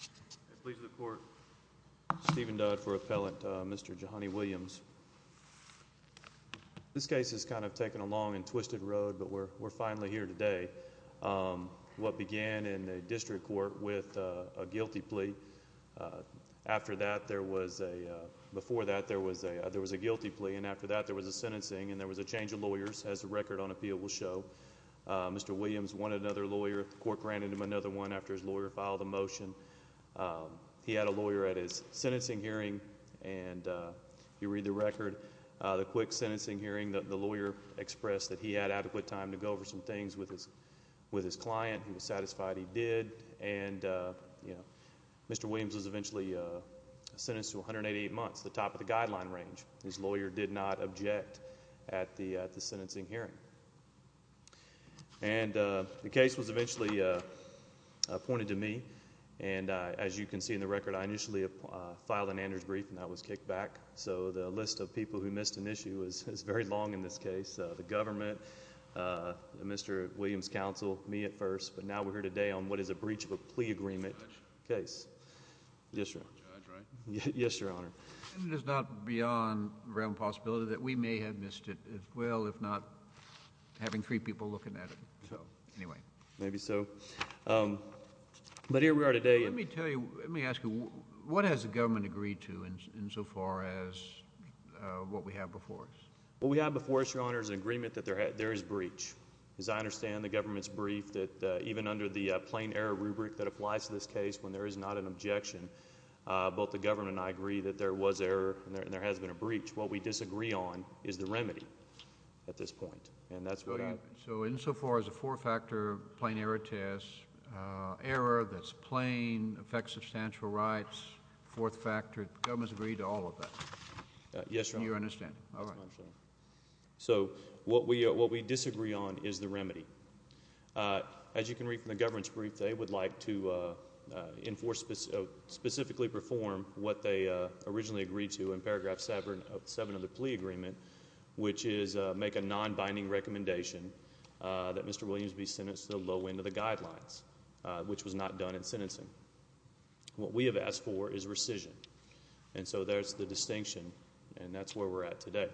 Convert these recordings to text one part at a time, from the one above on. I plead to the court Stephen Dudd for appellate Mr. Jehoni Williams. This case has kind of taken a long and twisted road but we're we're finally here today. What began in the district court with a guilty plea after that there was a before that there was a there was a guilty plea and after that there was a sentencing and there was a change of lawyers as a record on appeal will show Mr. Williams wanted another lawyer court granted him another one after his lawyer filed a motion he had a lawyer at his sentencing hearing and you read the record the quick sentencing hearing that the lawyer expressed that he had adequate time to go over some things with his with his client he was satisfied he did and you know Mr. Williams was eventually sentenced to 188 months the top of the guideline range his lawyer did not object at the end as you can see in the record I initially filed an Andrews brief and I was kicked back so the list of people who missed an issue is very long in this case the government Mr. Williams counsel me at first but now we're here today on what is a breach of a plea agreement case yes yes your honor there's not beyond realm possibility that we may have missed it as well if having three people looking at it so anyway maybe so but here we are today let me tell you let me ask you what has the government agreed to and insofar as what we have before us well we have before us your honor is an agreement that there had there is breach as I understand the government's brief that even under the plain error rubric that applies to this case when there is not an objection both the government I agree that there was error and there has been a breach what we disagree on is the remedy at this point and that's what so insofar as a four-factor plain error test error that's plain affects substantial rights fourth factor governments agreed to all of that yes you understand all right so what we what we disagree on is the remedy as you can read from the government's brief they would like to enforce specifically perform what they originally agreed to in paragraph seven seven of the plea agreement which is make a non-binding recommendation that mr. Williams be sentenced to the low end of the guidelines which was not done in sentencing what we have asked for is rescission and so there's the distinction and that's where we're at today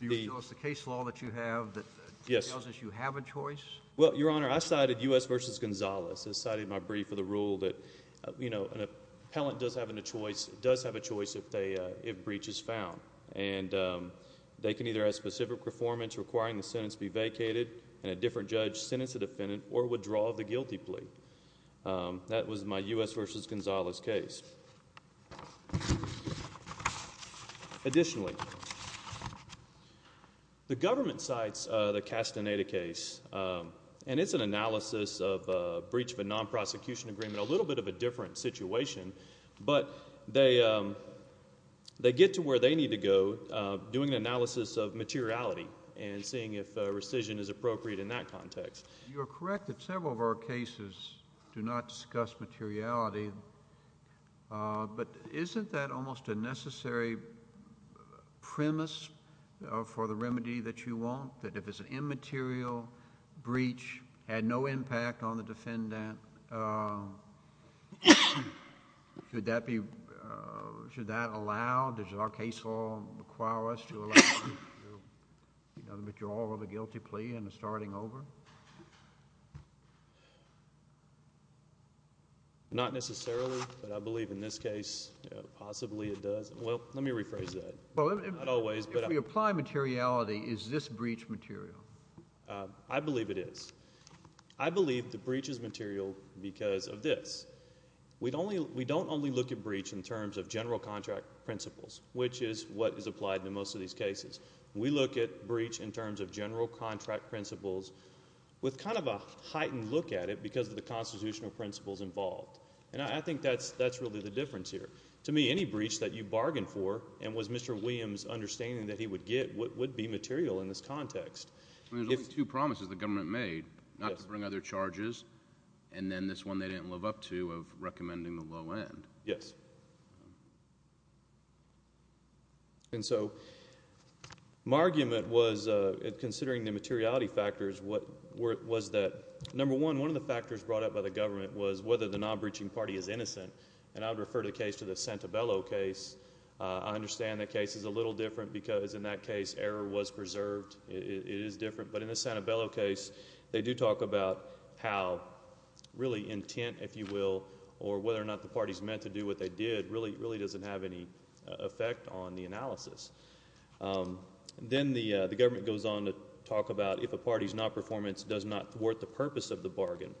the case law that you have that yes you have a choice well your honor I cited us versus Gonzales has cited my brief of the rule that you know does have a choice does have a choice if they have breaches found and they can either a specific performance requiring the sentence be vacated a different judge sentence a defendant or withdraw the guilty plea that was my u.s. vs. Gonzales case additionally the government sites the castaneda case and it's an analysis of breach of a non-prosecution agreement a little bit of a different situation but they they get to where they need to go doing analysis of materiality and seeing if rescission is appropriate in that context you're correct that several of our cases do not discuss materiality but isn't that almost a necessary premise for the remedy that you want that if it's an immaterial breach had no impact on the defendant should that be should that allow does our case all require us to allow the withdrawal of a guilty plea and the starting over not necessarily but I believe in this case possibly it does well let me rephrase that well it always but if we apply materiality is this breach material I believe it is I believe the breaches material because of this we'd only we don't only look at breach in terms of general contract principles which is what is applied to most of these cases we look at breach in terms of general contract principles with kind of a heightened look at it because the constitutional principles involved and I think that's that's really the difference here to me any breach that you bargain for and was mr. Williams understanding that he would get what would be material in this context if you promises the government made bring other charges and then this one they didn't live up to of recommending the low end yes and so my argument was considering the materiality factors what was that number one one of the factors brought up by the government was whether the non-breaching party is innocent and I would refer to the case to the Santabello case I understand the case is a little different because in that case error was preserved it is different but in the Santabello case they do talk about how really intent if you will or whether or not the party's meant to do what they did really really doesn't have any effect on the analysis then the the government goes on to talk about if a party's not performance does not worth the purpose of the bargain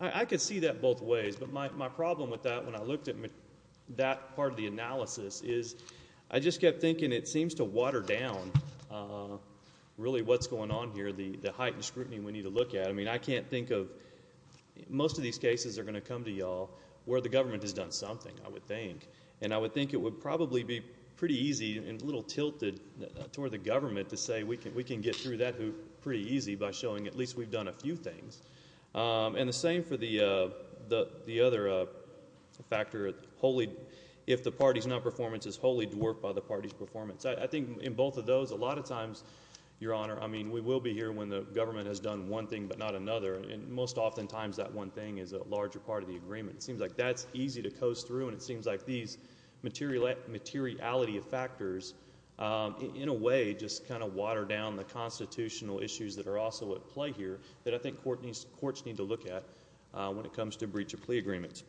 I could see that both ways but my problem with that when I looked at me that part of the analysis is I just kept thinking it seems to water down really what's going on here the the heightened scrutiny we need to look at I mean I can't think of most of these cases are going to come to y'all where the government has done something I would think and I would think it would probably be pretty easy and little tilted toward the government to say we can we can get through that who pretty easy by showing at least we've done a few things and the same for the the the other factor wholly if the party's not performance is wholly dwarfed by the party's performance I think in both of those a lot of times your honor I mean we will be here when the government has done one thing but not another and most oftentimes that one thing is a larger part of the agreement it seems like that's easy to coast through and it seems like these material at materiality of factors in a way just kind of water down the constitutional issues that are also at play here that I think Courtney's courts need to look at when it comes to breach of plea agreements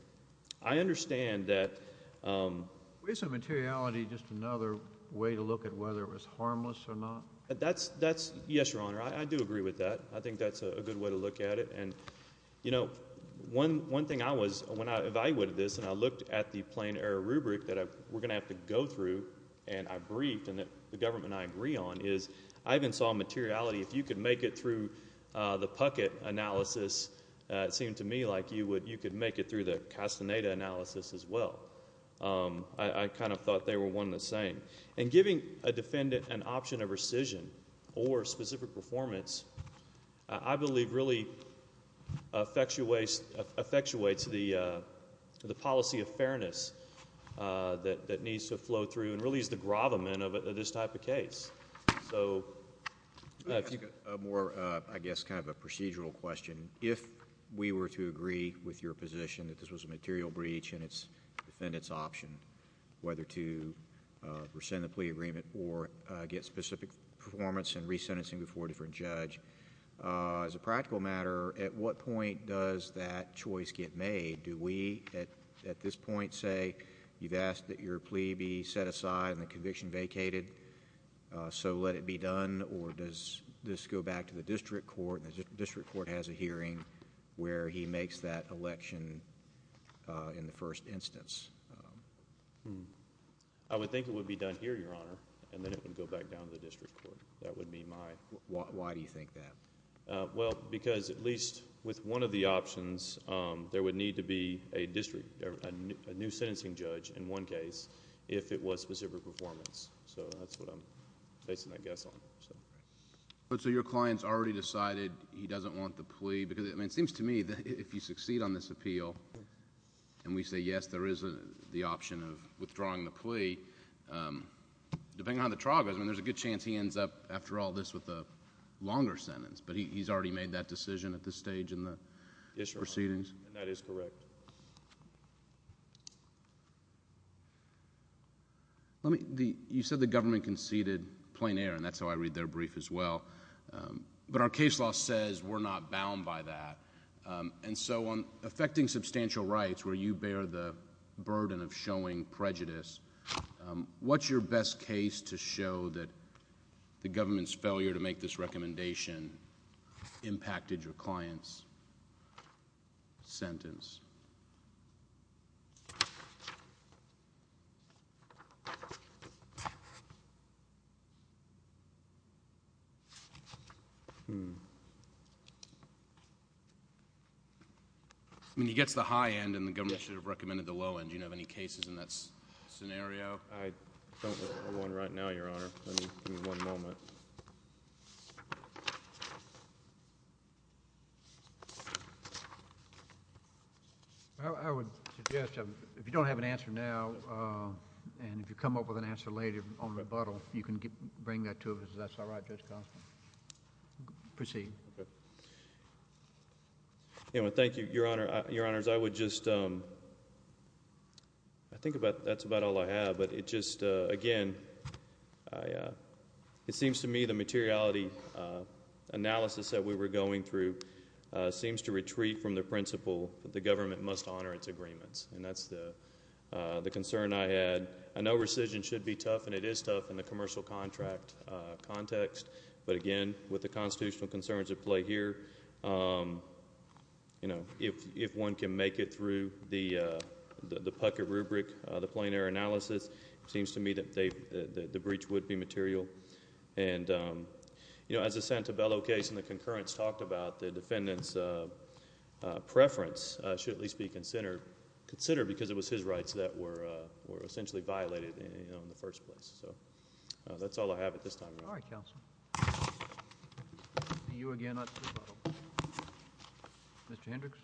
I understand that we some materiality just another way to look at whether it was harmless or not that's that's yes your honor I do agree with that I think that's a good way to look at it and you know one one thing I was when I evaluated this and I looked at the plain error rubric that I we're gonna have to go through and I briefed and that the government I agree on is I even saw materiality if you could make it through the pucket analysis it seemed to me like you would you could make it through the as well I kind of thought they were one of the same and giving a defendant an option of rescission or specific performance I believe really affects your ways affects your way to the the policy of fairness that needs to flow through and really is the grovelment of this type of case so more I guess kind of a procedural question if we were to agree with your position that this was a material breach and it's defendants option whether to rescind the plea agreement or get specific performance and re-sentencing before a different judge as a practical matter at what point does that choice get made do we at at this point say you've asked that your plea be set aside and the conviction vacated so let it be done or does this go back to the district court the in the first instance I would think it would be done here your honor and then it would go back down to the district court that would be my why do you think that well because at least with one of the options there would need to be a district a new sentencing judge in one case if it was specific performance so that's what I'm placing that guess on but so your clients already decided he doesn't want the plea because I mean it seems to me that if you succeed on this appeal and we say yes there is a the option of withdrawing the plea depending on the trial goes I mean there's a good chance he ends up after all this with a longer sentence but he's already made that decision at this stage in the proceedings that is correct let me the you said the government conceded plein air and that's how I read their brief as well but our case law says we're not bound by that and so on affecting substantial rights where you bear the burden of showing prejudice what's your best case to show that the government's I mean he gets the high end and the government should have recommended the low end you have any cases in that scenario I don't want right now your honor I would if you don't have an answer now and if you come up with an answer later on rebuttal you can get bring that to us that's all right just proceed thank you your honor your honors I would just I think about that's about all I have but it just again it seems to me the materiality analysis that we were going through seems to retreat from the principle the government must honor its agreements and that's the the concern I had I know rescission should be tough and it is tough in the commercial contract context but again with the constitutional concerns at play here you know if if one can make it through the the pucket rubric the plein air analysis seems to me that they the breach would be material and you know as a Santa Bella case and the concurrence talked about the defendants preference should at least be considered considered because it was his rights that were were essentially violated in the first place so that's all I have at this time all right counsel you again mr. Hendricks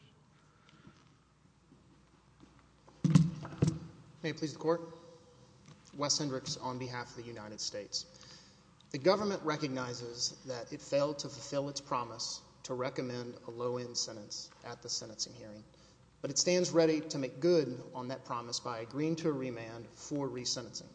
may please the court Wes Hendricks on behalf of the United States the government recognizes that it failed to fulfill its promise to recommend a low to make good on that promise by agreeing to a remand for resentencing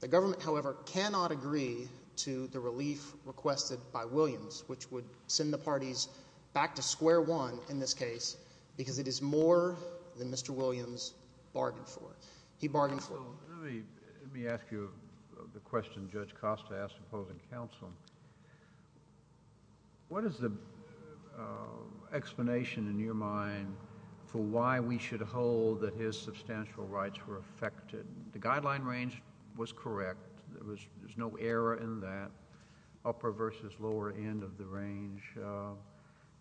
the government however cannot agree to the relief requested by Williams which would send the parties back to square one in this case because it is more than mr. Williams bargained for he bargained for let me ask you the question judge Costa asked opposing counsel what is the explanation in your mind for why we should hold that his substantial rights were affected the guideline range was correct there was there's no error in that upper versus lower end of the range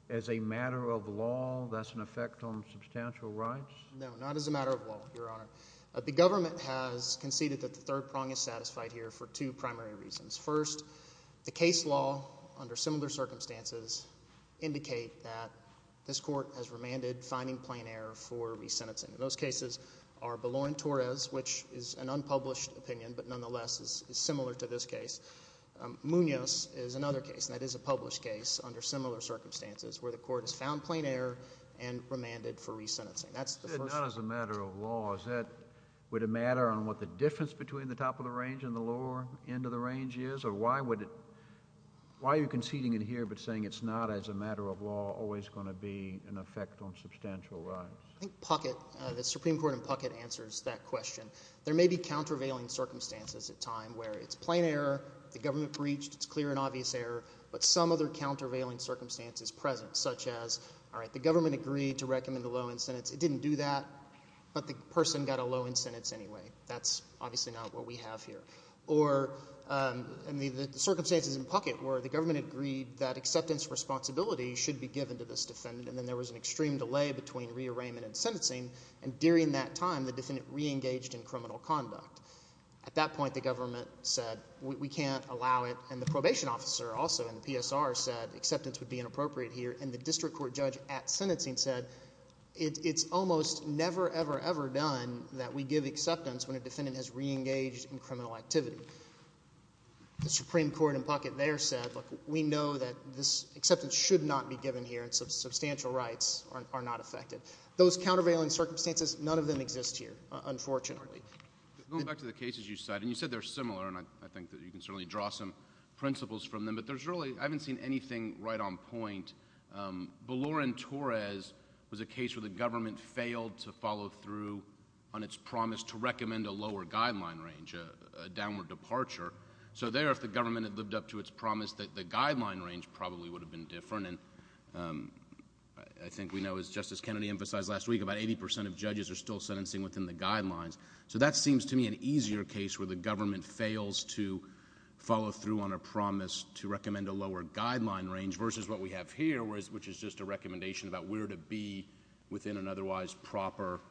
as a matter of law that's an effect on substantial rights no not as a matter of law your honor the government has conceded that the third prong is satisfied here for two primary reasons first the case law under similar circumstances indicate that this court has remanded finding plain error for resentencing those cases are below in Torres which is an unpublished opinion but nonetheless is similar to this case Munoz is another case that is a published case under similar circumstances where the court has found plain error and remanded for resentencing that's the matter of laws that would a matter on what the difference between the top of the range in the lower end of the range is or why would it why you conceding in here but saying it's not as a matter of law always going to be an effect on substantial right pocket the Supreme Court and pocket answers that question there may be countervailing circumstances at time where it's plain error the government breached it's clear and obvious error but some other countervailing circumstances present such as all right the government agreed to recommend the low incentives it didn't do that but the person got a low incentives anyway that's obviously not what we have here or circumstances in pocket where the government agreed that acceptance responsibility should be given to this defendant and then there was an extreme delay between rearrangement and sentencing and during that time the defendant reengaged in criminal conduct at that point the government said we can't allow it and the probation officer also in PSR said acceptance would be inappropriate here and the district court judge at sentencing said it's almost never ever ever done that we give acceptance when a defendant reengaged in criminal activity the Supreme Court and pocket there said we know that this acceptance should not be given here and some substantial rights are not affected those countervailing circumstances none of them exist here unfortunately going back to the cases you said and you said they're similar and I think that you can certainly draw some principles from them but there's really I haven't seen anything right on point Belorin Torres was a case where the government failed to follow through on its promise to recommend a lower guideline range a downward departure so there if the government had lived up to its promise that the guideline range probably would have been different and I think we know as Justice Kennedy emphasized last week about eighty percent of judges are still sentencing within the guidelines so that seems to me an easier case where the government fails to follow through on a promise to recommend a lower guideline range versus what we have here was which is just a recommendation about where to be within an otherwise proper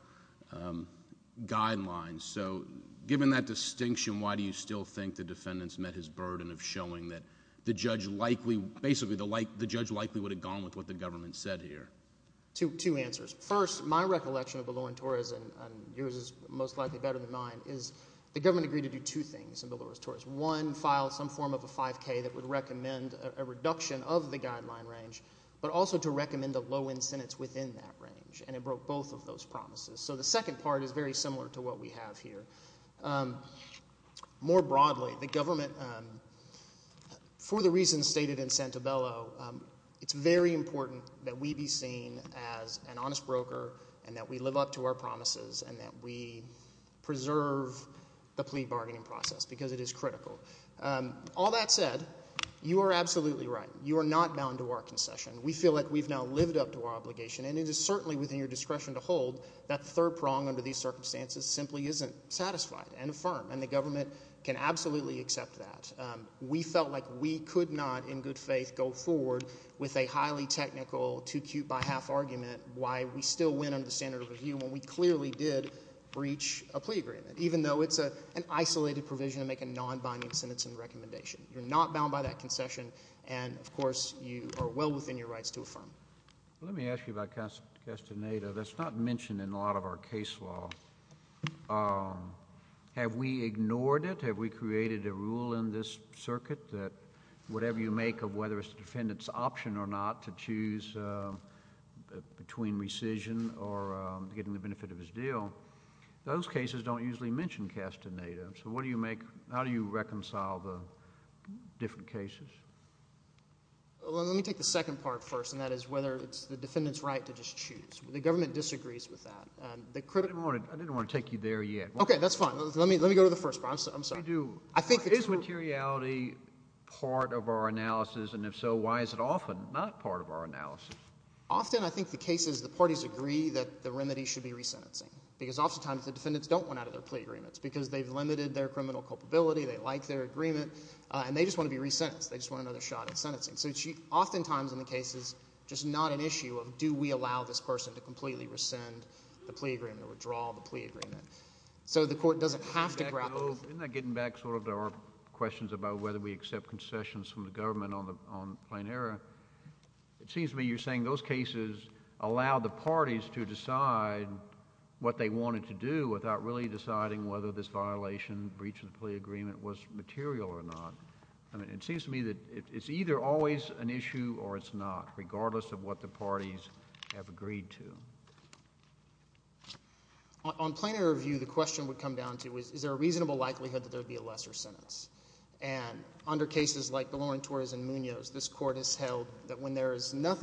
guidelines so given that distinction why do you still think the defendants met his burden of showing that the judge likely basically the like the judge likely would have gone with what the government said here to two answers first my recollection of Belorin Torres and yours is most likely better than mine is the government agreed to do two things in Belorin Torres one file some form of a 5k that would recommend a reduction of the guideline range but also to recommend a low incentives within that range and it broke both of those promises so the second part is very similar to what we have here more broadly the government for the reasons stated in Santa Bella it's very important that we be seen as an honest broker and that we live up to our promises and that we preserve the plea bargaining process because it is critical all that said you are absolutely right you are not bound to our concession we feel like we've now lived up to our obligation and it is certainly within your discretion to hold that third prong under these circumstances simply isn't satisfied and firm and the government can absolutely accept that we felt like we could not in good faith go forward with a highly technical to keep by half argument why we still win on the standard of review when we clearly did reach a plea agreement even though it's a isolated provision make a non-binding sentence and recommendation you're not bound by that concession and of course you are well within your rights to affirm let me ask you about cast a native that's not mentioned in a lot of our case law have we ignored it have we created a rule in this circuit that whatever you make of whether it's the defendants option or not to choose between rescission or getting the benefit of his deal those cases don't usually mention cast a native so what do you make how do you reconcile the different cases let me take the second part first and that is whether it's the defendants right to just choose the government disagrees with that and the credit wanted I didn't want to take you there yet okay that's fine let me let me go to the first response I'm sorry do I think is materiality part of our analysis and if so why is it often not part of our analysis often I think the case is the parties agree that the remedy should be resentencing because oftentimes the plea agreements because they've limited their criminal culpability they like their agreement and they just want to be resentenced they just want another shot at sentencing so she oftentimes in the case is just not an issue of do we allow this person to completely rescind the plea agreement or withdraw the plea agreement so the court doesn't have to grab getting back sort of there are questions about whether we accept concessions from the government on the plane era it seems to me you're saying those cases allow the parties to decide what they wanted to do without really deciding whether this violation breach of the plea agreement was material or not I mean it seems to me that it's either always an issue or it's not regardless of what the parties have agreed to on planar of you the question would come down to is there a reasonable likelihood that there would be a lesser sentence and under cases like the Lauren Torres and Munoz this court has held that when there is not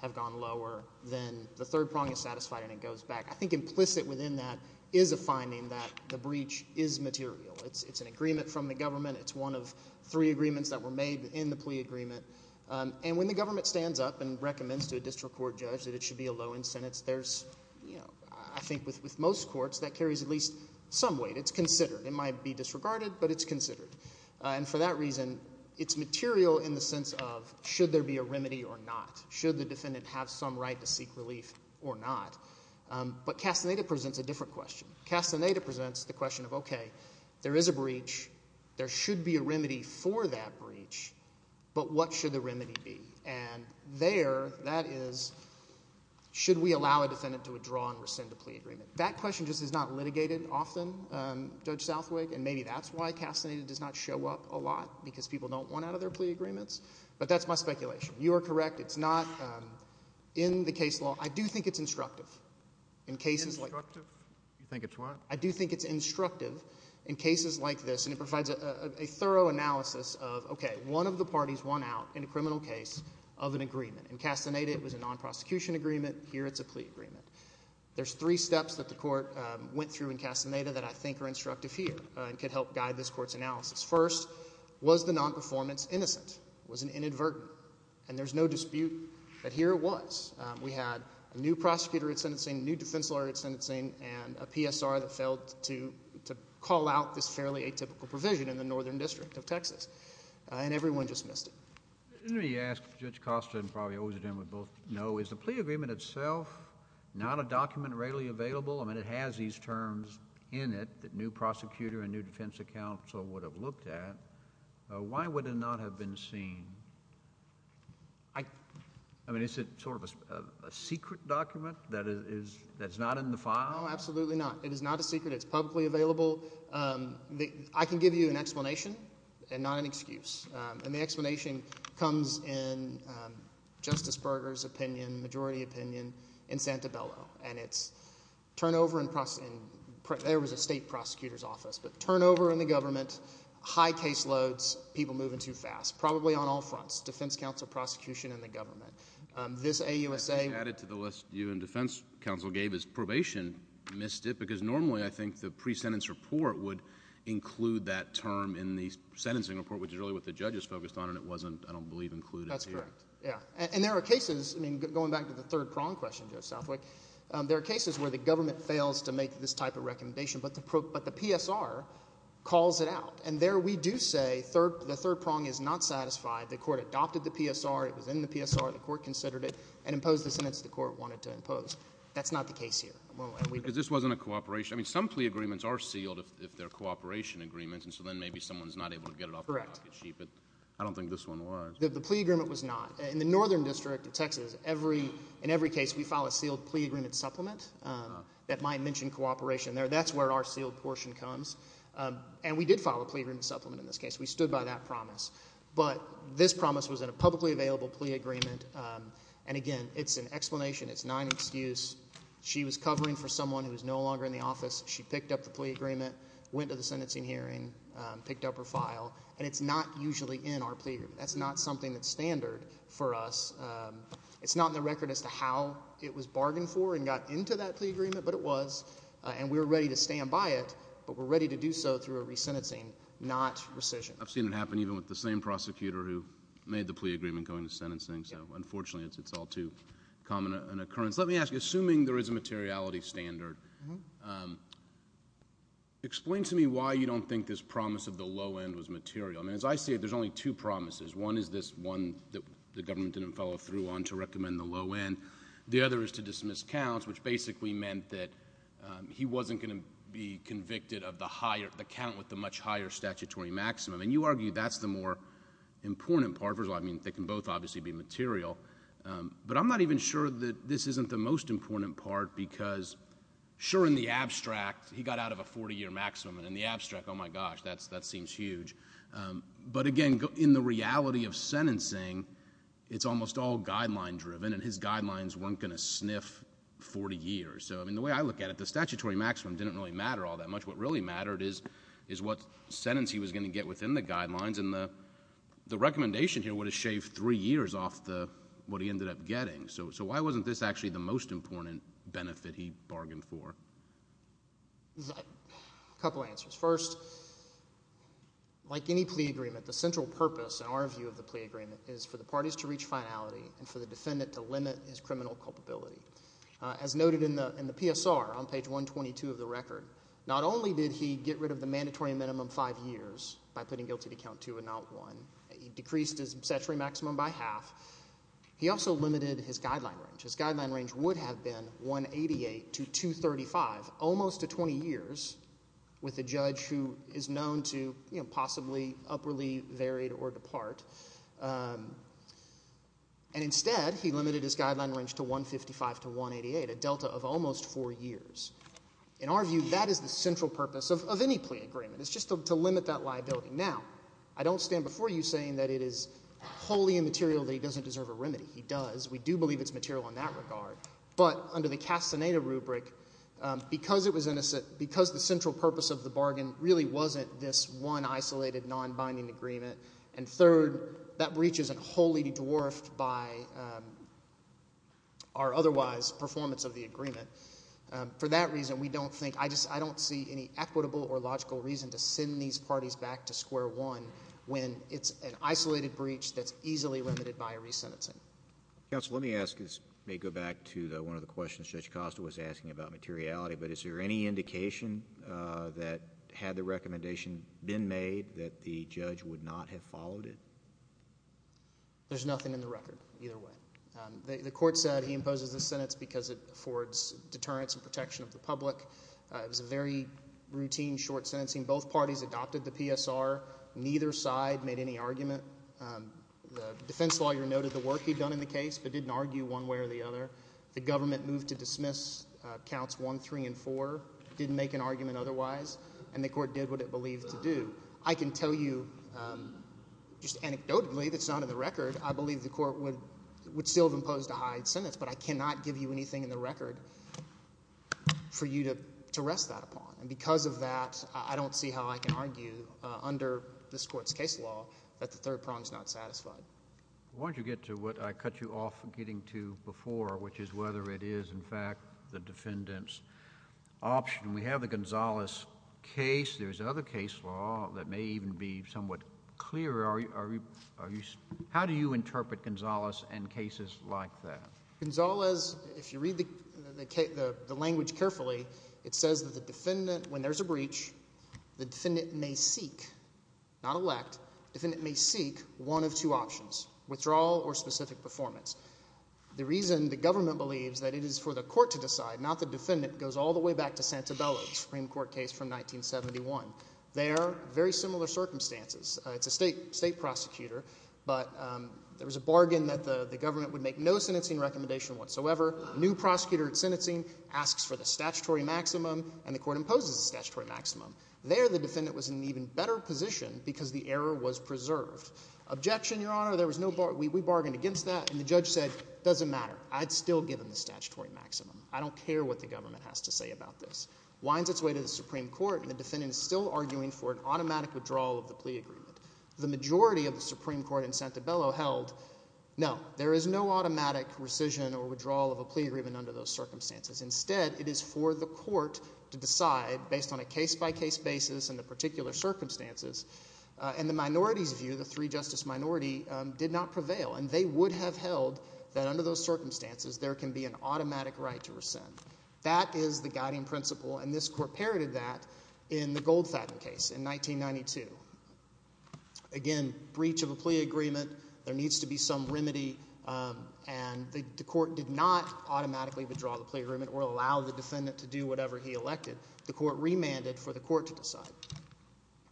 have gone lower than the third prong is satisfied and it goes back I think implicit within that is a finding that the breach is material it's it's an agreement from the government it's one of three agreements that were made in the plea agreement and when the government stands up and recommends to a district court judge that it should be a low in sentence there's you know I think with with most courts that carries at least some weight it's considered it might be disregarded but it's considered and for that reason it's material in the should the defendant have some right to seek relief or not but cast a native presents a different question cast a native presents the question of okay there is a breach there should be a remedy for that breach but what should the remedy be and there that is should we allow a defendant to withdraw and rescind a plea agreement that question just is not litigated often judge Southwick and maybe that's why castrated does not show up a lot because people don't want out of their plea agreements but that's my speculation you are correct it's not in the case law I do think it's instructive in cases like you think it's what I do think it's instructive in cases like this and it provides a thorough analysis of okay one of the parties won out in a criminal case of an agreement and cast a native was a non-prosecution agreement here it's a plea agreement there's three steps that the court went through in Castaneda that I think are instructive here and could help guide this court's analysis first was the non-performance innocent was an inadvertent and there's no dispute that here was we had a new prosecutor at sentencing new defense lawyer at sentencing and a PSR that failed to to call out this fairly atypical provision in the northern district of Texas and everyone just missed it he asked judge Costa and probably owes it in with both no is the plea agreement itself not a document readily available I mean it has these terms in it that new prosecutor and new defense account so would have looked at why would it not have been seen I I mean is it sort of a secret document that is that's not in the file absolutely not it is not a secret it's publicly available I can give you an explanation and not an excuse and the explanation comes in justice burgers opinion majority opinion in Santabella and it's turnover in processing there was a state prosecutor's office but turnover in the caseloads people moving too fast probably on all fronts defense counsel prosecution in the government this a USA added to the list you and defense counsel gave his probation missed it because normally I think the pre-sentence report would include that term in the sentencing report which is really what the judges focused on and it wasn't I don't believe included that's correct yeah and there are cases I mean going back to the third prong question just Southwick there are cases where the government fails to make this type of third the third prong is not satisfied the court adopted the PSR it was in the PSR the court considered it and imposed the sentence the court wanted to impose that's not the case here because this wasn't a cooperation I mean some plea agreements are sealed if they're cooperation agreements and so then maybe someone's not able to get it all correct but I don't think this one was the plea agreement was not in the northern district of Texas every in every case we file a sealed plea agreement supplement that might mention cooperation there that's where our sealed portion comes and we did file a plea agreement supplement in this case we stood by that promise but this promise was in a publicly available plea agreement and again it's an explanation it's not excuse she was covering for someone who is no longer in the office she picked up the plea agreement went to the sentencing hearing picked up her file and it's not usually in our plea that's not something that's standard for us it's not in the record as to how it was bargained for and got into that plea agreement but it was and we were ready to stand by it but we're ready to do so through a sentencing not rescission I've seen it happen even with the same prosecutor who made the plea agreement going to sentencing so unfortunately it's it's all too common an occurrence let me ask you assuming there is a materiality standard explain to me why you don't think this promise of the low end was material and as I say there's only two promises one is this one that the government didn't follow through on to recommend the low end the other is to dismiss counts which basically meant that he wasn't going to be convicted of the higher the count with the much higher statutory maximum and you argue that's the more important part of it I mean they can both obviously be material but I'm not even sure that this isn't the most important part because sure in the abstract he got out of a 40-year maximum and in the abstract oh my gosh that's that seems huge but again in the reality of sentencing it's almost all guideline driven and his guidelines weren't gonna sniff 40 years so I mean the way I look at it the statutory maximum didn't really matter all that much what really mattered is is what sentence he was going to get within the guidelines and the the recommendation here would have shaved three years off the what he ended up getting so so why wasn't this actually the most important benefit he bargained for a couple answers first like any plea agreement the central purpose in our view of the plea agreement is for the parties to reach finality and for the defendant to limit his criminal culpability as noted in the in the PSR on page 122 of the record not only did he get rid of the mandatory minimum five years by putting guilty to count two and not one he decreased his statutory maximum by half he also limited his guideline range his guideline range would have been 188 to 235 almost to 20 years with a judge who is known to you know possibly up really varied or depart and instead he limited his guideline range to 155 to 188 a Delta of almost four years in our view that is the central purpose of any plea agreement it's just to limit that liability now I don't stand before you saying that it is wholly immaterial that he doesn't deserve a remedy he does we do believe it's material in that regard but under the Castaneda rubric because it was innocent because the central purpose of the bargain really wasn't this one isolated non-binding agreement and third that breaches and wholly dwarfed by our otherwise performance of the agreement for that reason we don't think I just I don't see any equitable or logical reason to send these parties back to square one when it's an isolated breach that's easily limited by a resentencing yes let me ask is may go back to the one of the questions judge Costa was asking about materiality but is there any indication that had the recommendation been made that the judge would not have followed it there's nothing in the record either way the court said he imposes the sentence because it affords deterrence and protection of the public it was a very routine short sentencing both parties adopted the PSR neither side made any argument the defense lawyer noted the work he'd done in the case but didn't argue one way or the other the government moved to dismiss counts 1 3 & 4 didn't make an argument otherwise and the court did what it believed to do I can tell you just anecdotally that's not in the record I believe the court would would still have imposed a hide sentence but I cannot give you anything in the record for you to to rest that upon and because of that I don't see how I can argue under this court's case law that the third prong is not satisfied why don't you get to what I cut you off getting to before which is whether it is in fact the defendants option we have the Gonzales case there's another case law that may even be somewhat clear are you are you how do you interpret Gonzales and cases like that Gonzales if you read the language carefully it says that the defendant when there's a breach the defendant may seek not elect if it may seek one of two options withdrawal or specific performance the reason the government believes that it is for the court to decide not the defendant goes all the way back to Supreme Court case from 1971 they are very similar circumstances it's a state state prosecutor but there was a bargain that the government would make no sentencing recommendation whatsoever new prosecutor at sentencing asks for the statutory maximum and the court imposes a statutory maximum there the defendant was an even better position because the error was preserved objection your honor there was no bar we bargained against that and the judge said doesn't matter I'd still give him the statutory maximum I don't care what the government has to say about this winds its way to the Supreme Court and the defendant is still arguing for an automatic withdrawal of the plea agreement the majority of the Supreme Court in Santabello held no there is no automatic rescission or withdrawal of a plea agreement under those circumstances instead it is for the court to decide based on a case-by-case basis and the particular circumstances and the minorities view the three justice minority did not prevail and they would have held that under those circumstances there can be an automatic right to rescind that is the guiding principle and this court parroted that in the Goldfaden case in 1992 again breach of a plea agreement there needs to be some remedy and the court did not automatically withdraw the plea agreement or allow the defendant to do whatever he elected the court remanded for the court to decide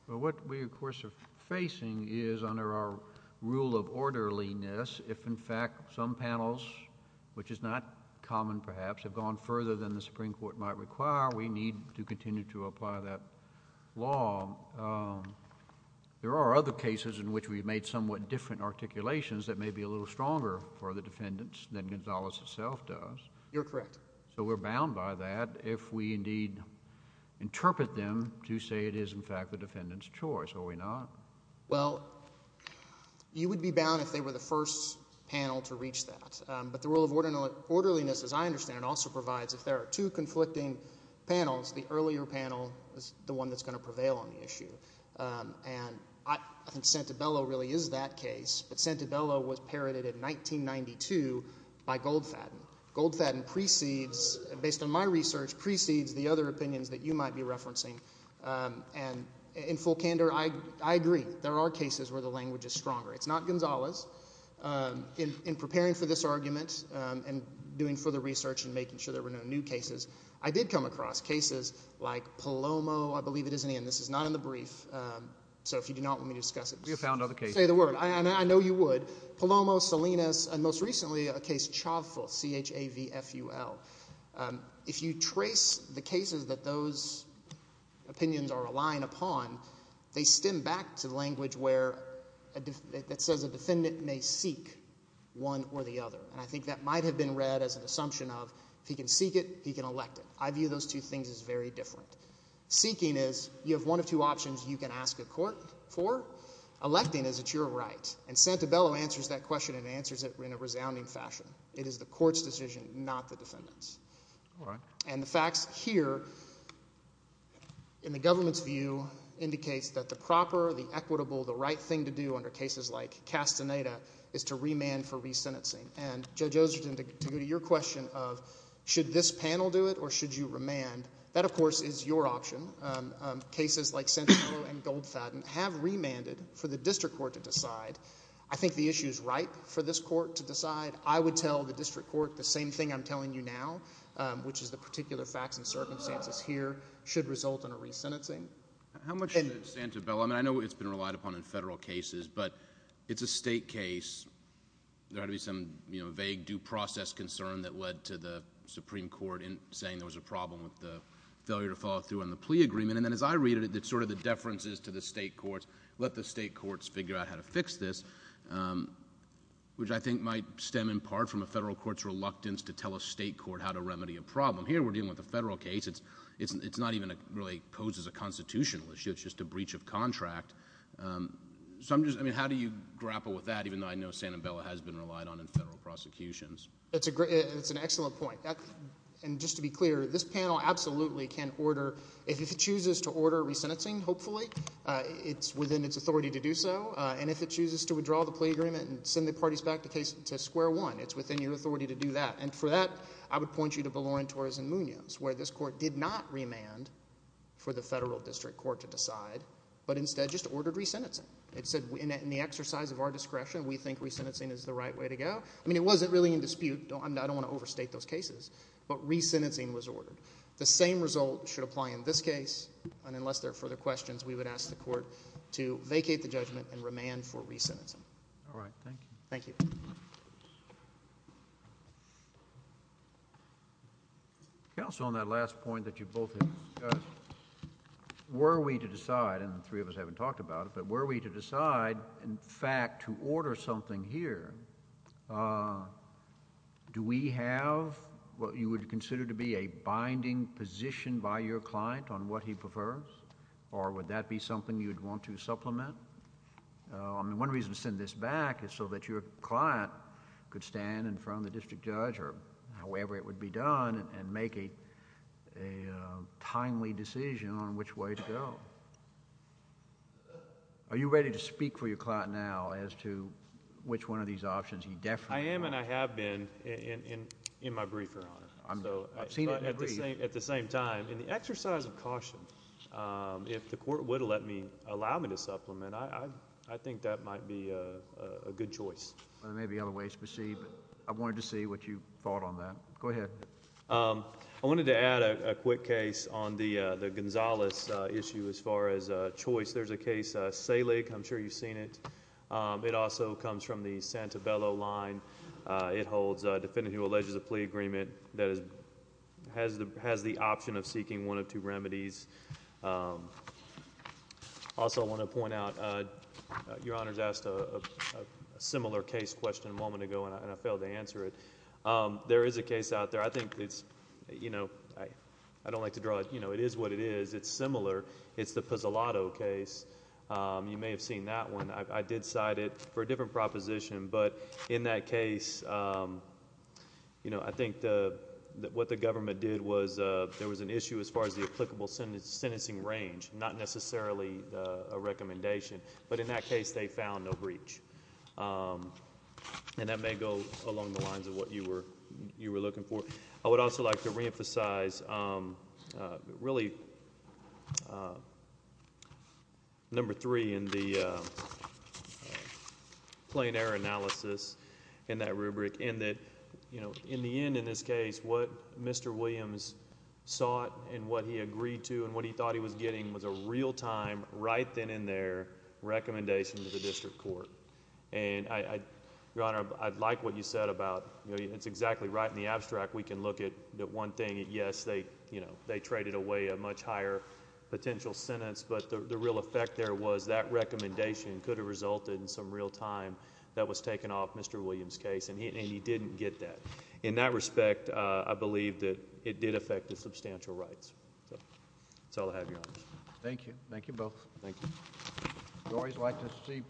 well what we of course are facing is under our rule of orderliness if in fact some panels which is not common perhaps have gone further than the Supreme Court might require we need to continue to apply that law there are other cases in which we've made somewhat different articulations that may be a little stronger for the defendants than Gonzales itself does you're correct so we're bound by that if we indeed interpret them to say it is in fact the defendant's choice are we not well you would be bound if they were the first panel to reach that but the rule of order orderliness as I understand it also provides if there are two conflicting panels the earlier panel is the one that's going to prevail on the issue and I think Santabella really is that case but Santabella was parroted in 1992 by Goldfaden Goldfaden precedes based on my research precedes the other opinions that you might be referencing and in full candor I agree there are cases where the language is stronger it's not Gonzales in preparing for this argument and doing further research and making sure there were no new cases I did come across cases like Palomo I believe it is in the end this is not in the brief so if you do not want me to discuss it you found other cases say the word and I know you would Palomo Salinas and most recently a case Chavful C-H-A-V-F-U-L if you trace the cases that those opinions are relying upon they stem back to language where it says a defendant may seek one or the other and I think that might have been read as an assumption of if he can seek it he can elect it I view those two things is very different seeking is you have one of two options you can ask a court for electing is it your right and Santabella answers that question and answers it in a resounding fashion it is the court's decision not the defendants all right and the facts here in the government's view indicates that the proper the equitable the right thing to do under cases like Castaneda is to remand for resentencing and Judge Osgurton to go to your question of should this panel do it or should you remand that of course is your option cases like Santabella and Goldfaden have remanded for the district court to decide I think the issue is right for this court to decide I would tell the district court the same thing I'm telling you now which is the particular facts and circumstances here should result in a resentencing how much in Santabella I know it's been relied upon in federal cases but it's a state case there had to be some you know vague due process concern that led to the Supreme Court in saying there was a problem with the failure to follow through on the plea agreement and then as I read it it's sort of the deferences to the state courts let the state courts figure out how to fix this which I think might stem in part from a federal court's reluctance to tell a state court how to remedy a problem here we're dealing with a federal case it's it's not even a really poses a constitutional issue it's just a breach of contract so I'm just I mean how do you grapple with that even though I know Santabella has been relied on in federal prosecutions it's a great it's an excellent point and just to be clear this panel absolutely can order if it chooses to order resentencing hopefully it's within its authority to do so and if it chooses to withdraw the plea agreement and send the parties back to case to square one it's within your authority to do that and for that I would point you to belong tourism unions where this court did not remand for the federal district court to decide but instead just ordered resentencing it said in the exercise of our discretion we think resentencing is the right way to go I mean it wasn't really in dispute don't I don't want to overstate those and unless there are further questions we would ask the court to vacate the judgment and remand for recentism all right thank you thank you counsel on that last point that you both were we to decide and the three of us haven't talked about it but were we to decide in fact to order something here do we have what you would consider to be a binding position by your client on what he prefers or would that be something you'd want to supplement I mean one reason to send this back is so that your client could stand in front of the district judge or however it would be done and make it a timely decision on which way to go are you ready to speak for your client now as to which one of these options he definitely am and I have been in in in my at the same at the same time in the exercise of caution if the court would let me allow me to supplement I I think that might be a good choice maybe other ways to proceed I wanted to see what you thought on that go ahead I wanted to add a quick case on the the Gonzales issue as far as choice there's a case sailing I'm sure you've seen it it also comes from the Santabello line it holds a defendant who alleges a plea agreement that is has the has the option of seeking one of two remedies also I want to point out your honor's asked a similar case question a moment ago and I failed to answer it there is a case out there I think it's you know I I don't like to draw it you know it is what it is it's similar it's the Pizzolatto case you may have seen that one I did cite it for a different proposition but in that case you know I think that what the government did was there was an issue as far as the applicable sentence sentencing range not necessarily a recommendation but in that case they found no breach and that may go along the lines of what you were you were looking for I would also like to reemphasize really number three in the plain error analysis in that rubric and that you know in the end in this case what mr. Williams sought and what he agreed to and what he thought he was getting was a real-time right then in their recommendation to the district court and I your honor I'd like what you said about you know it's exactly right in the abstract we can look at that one thing yes they you know they traded away a much higher potential sentence but the real effect there was that recommendation could have resulted in some real time that was taken off mr. Williams case and he didn't get that in that respect I believe that it did affect the substantial rights so I'll have you thank you thank you both thank you you always like to see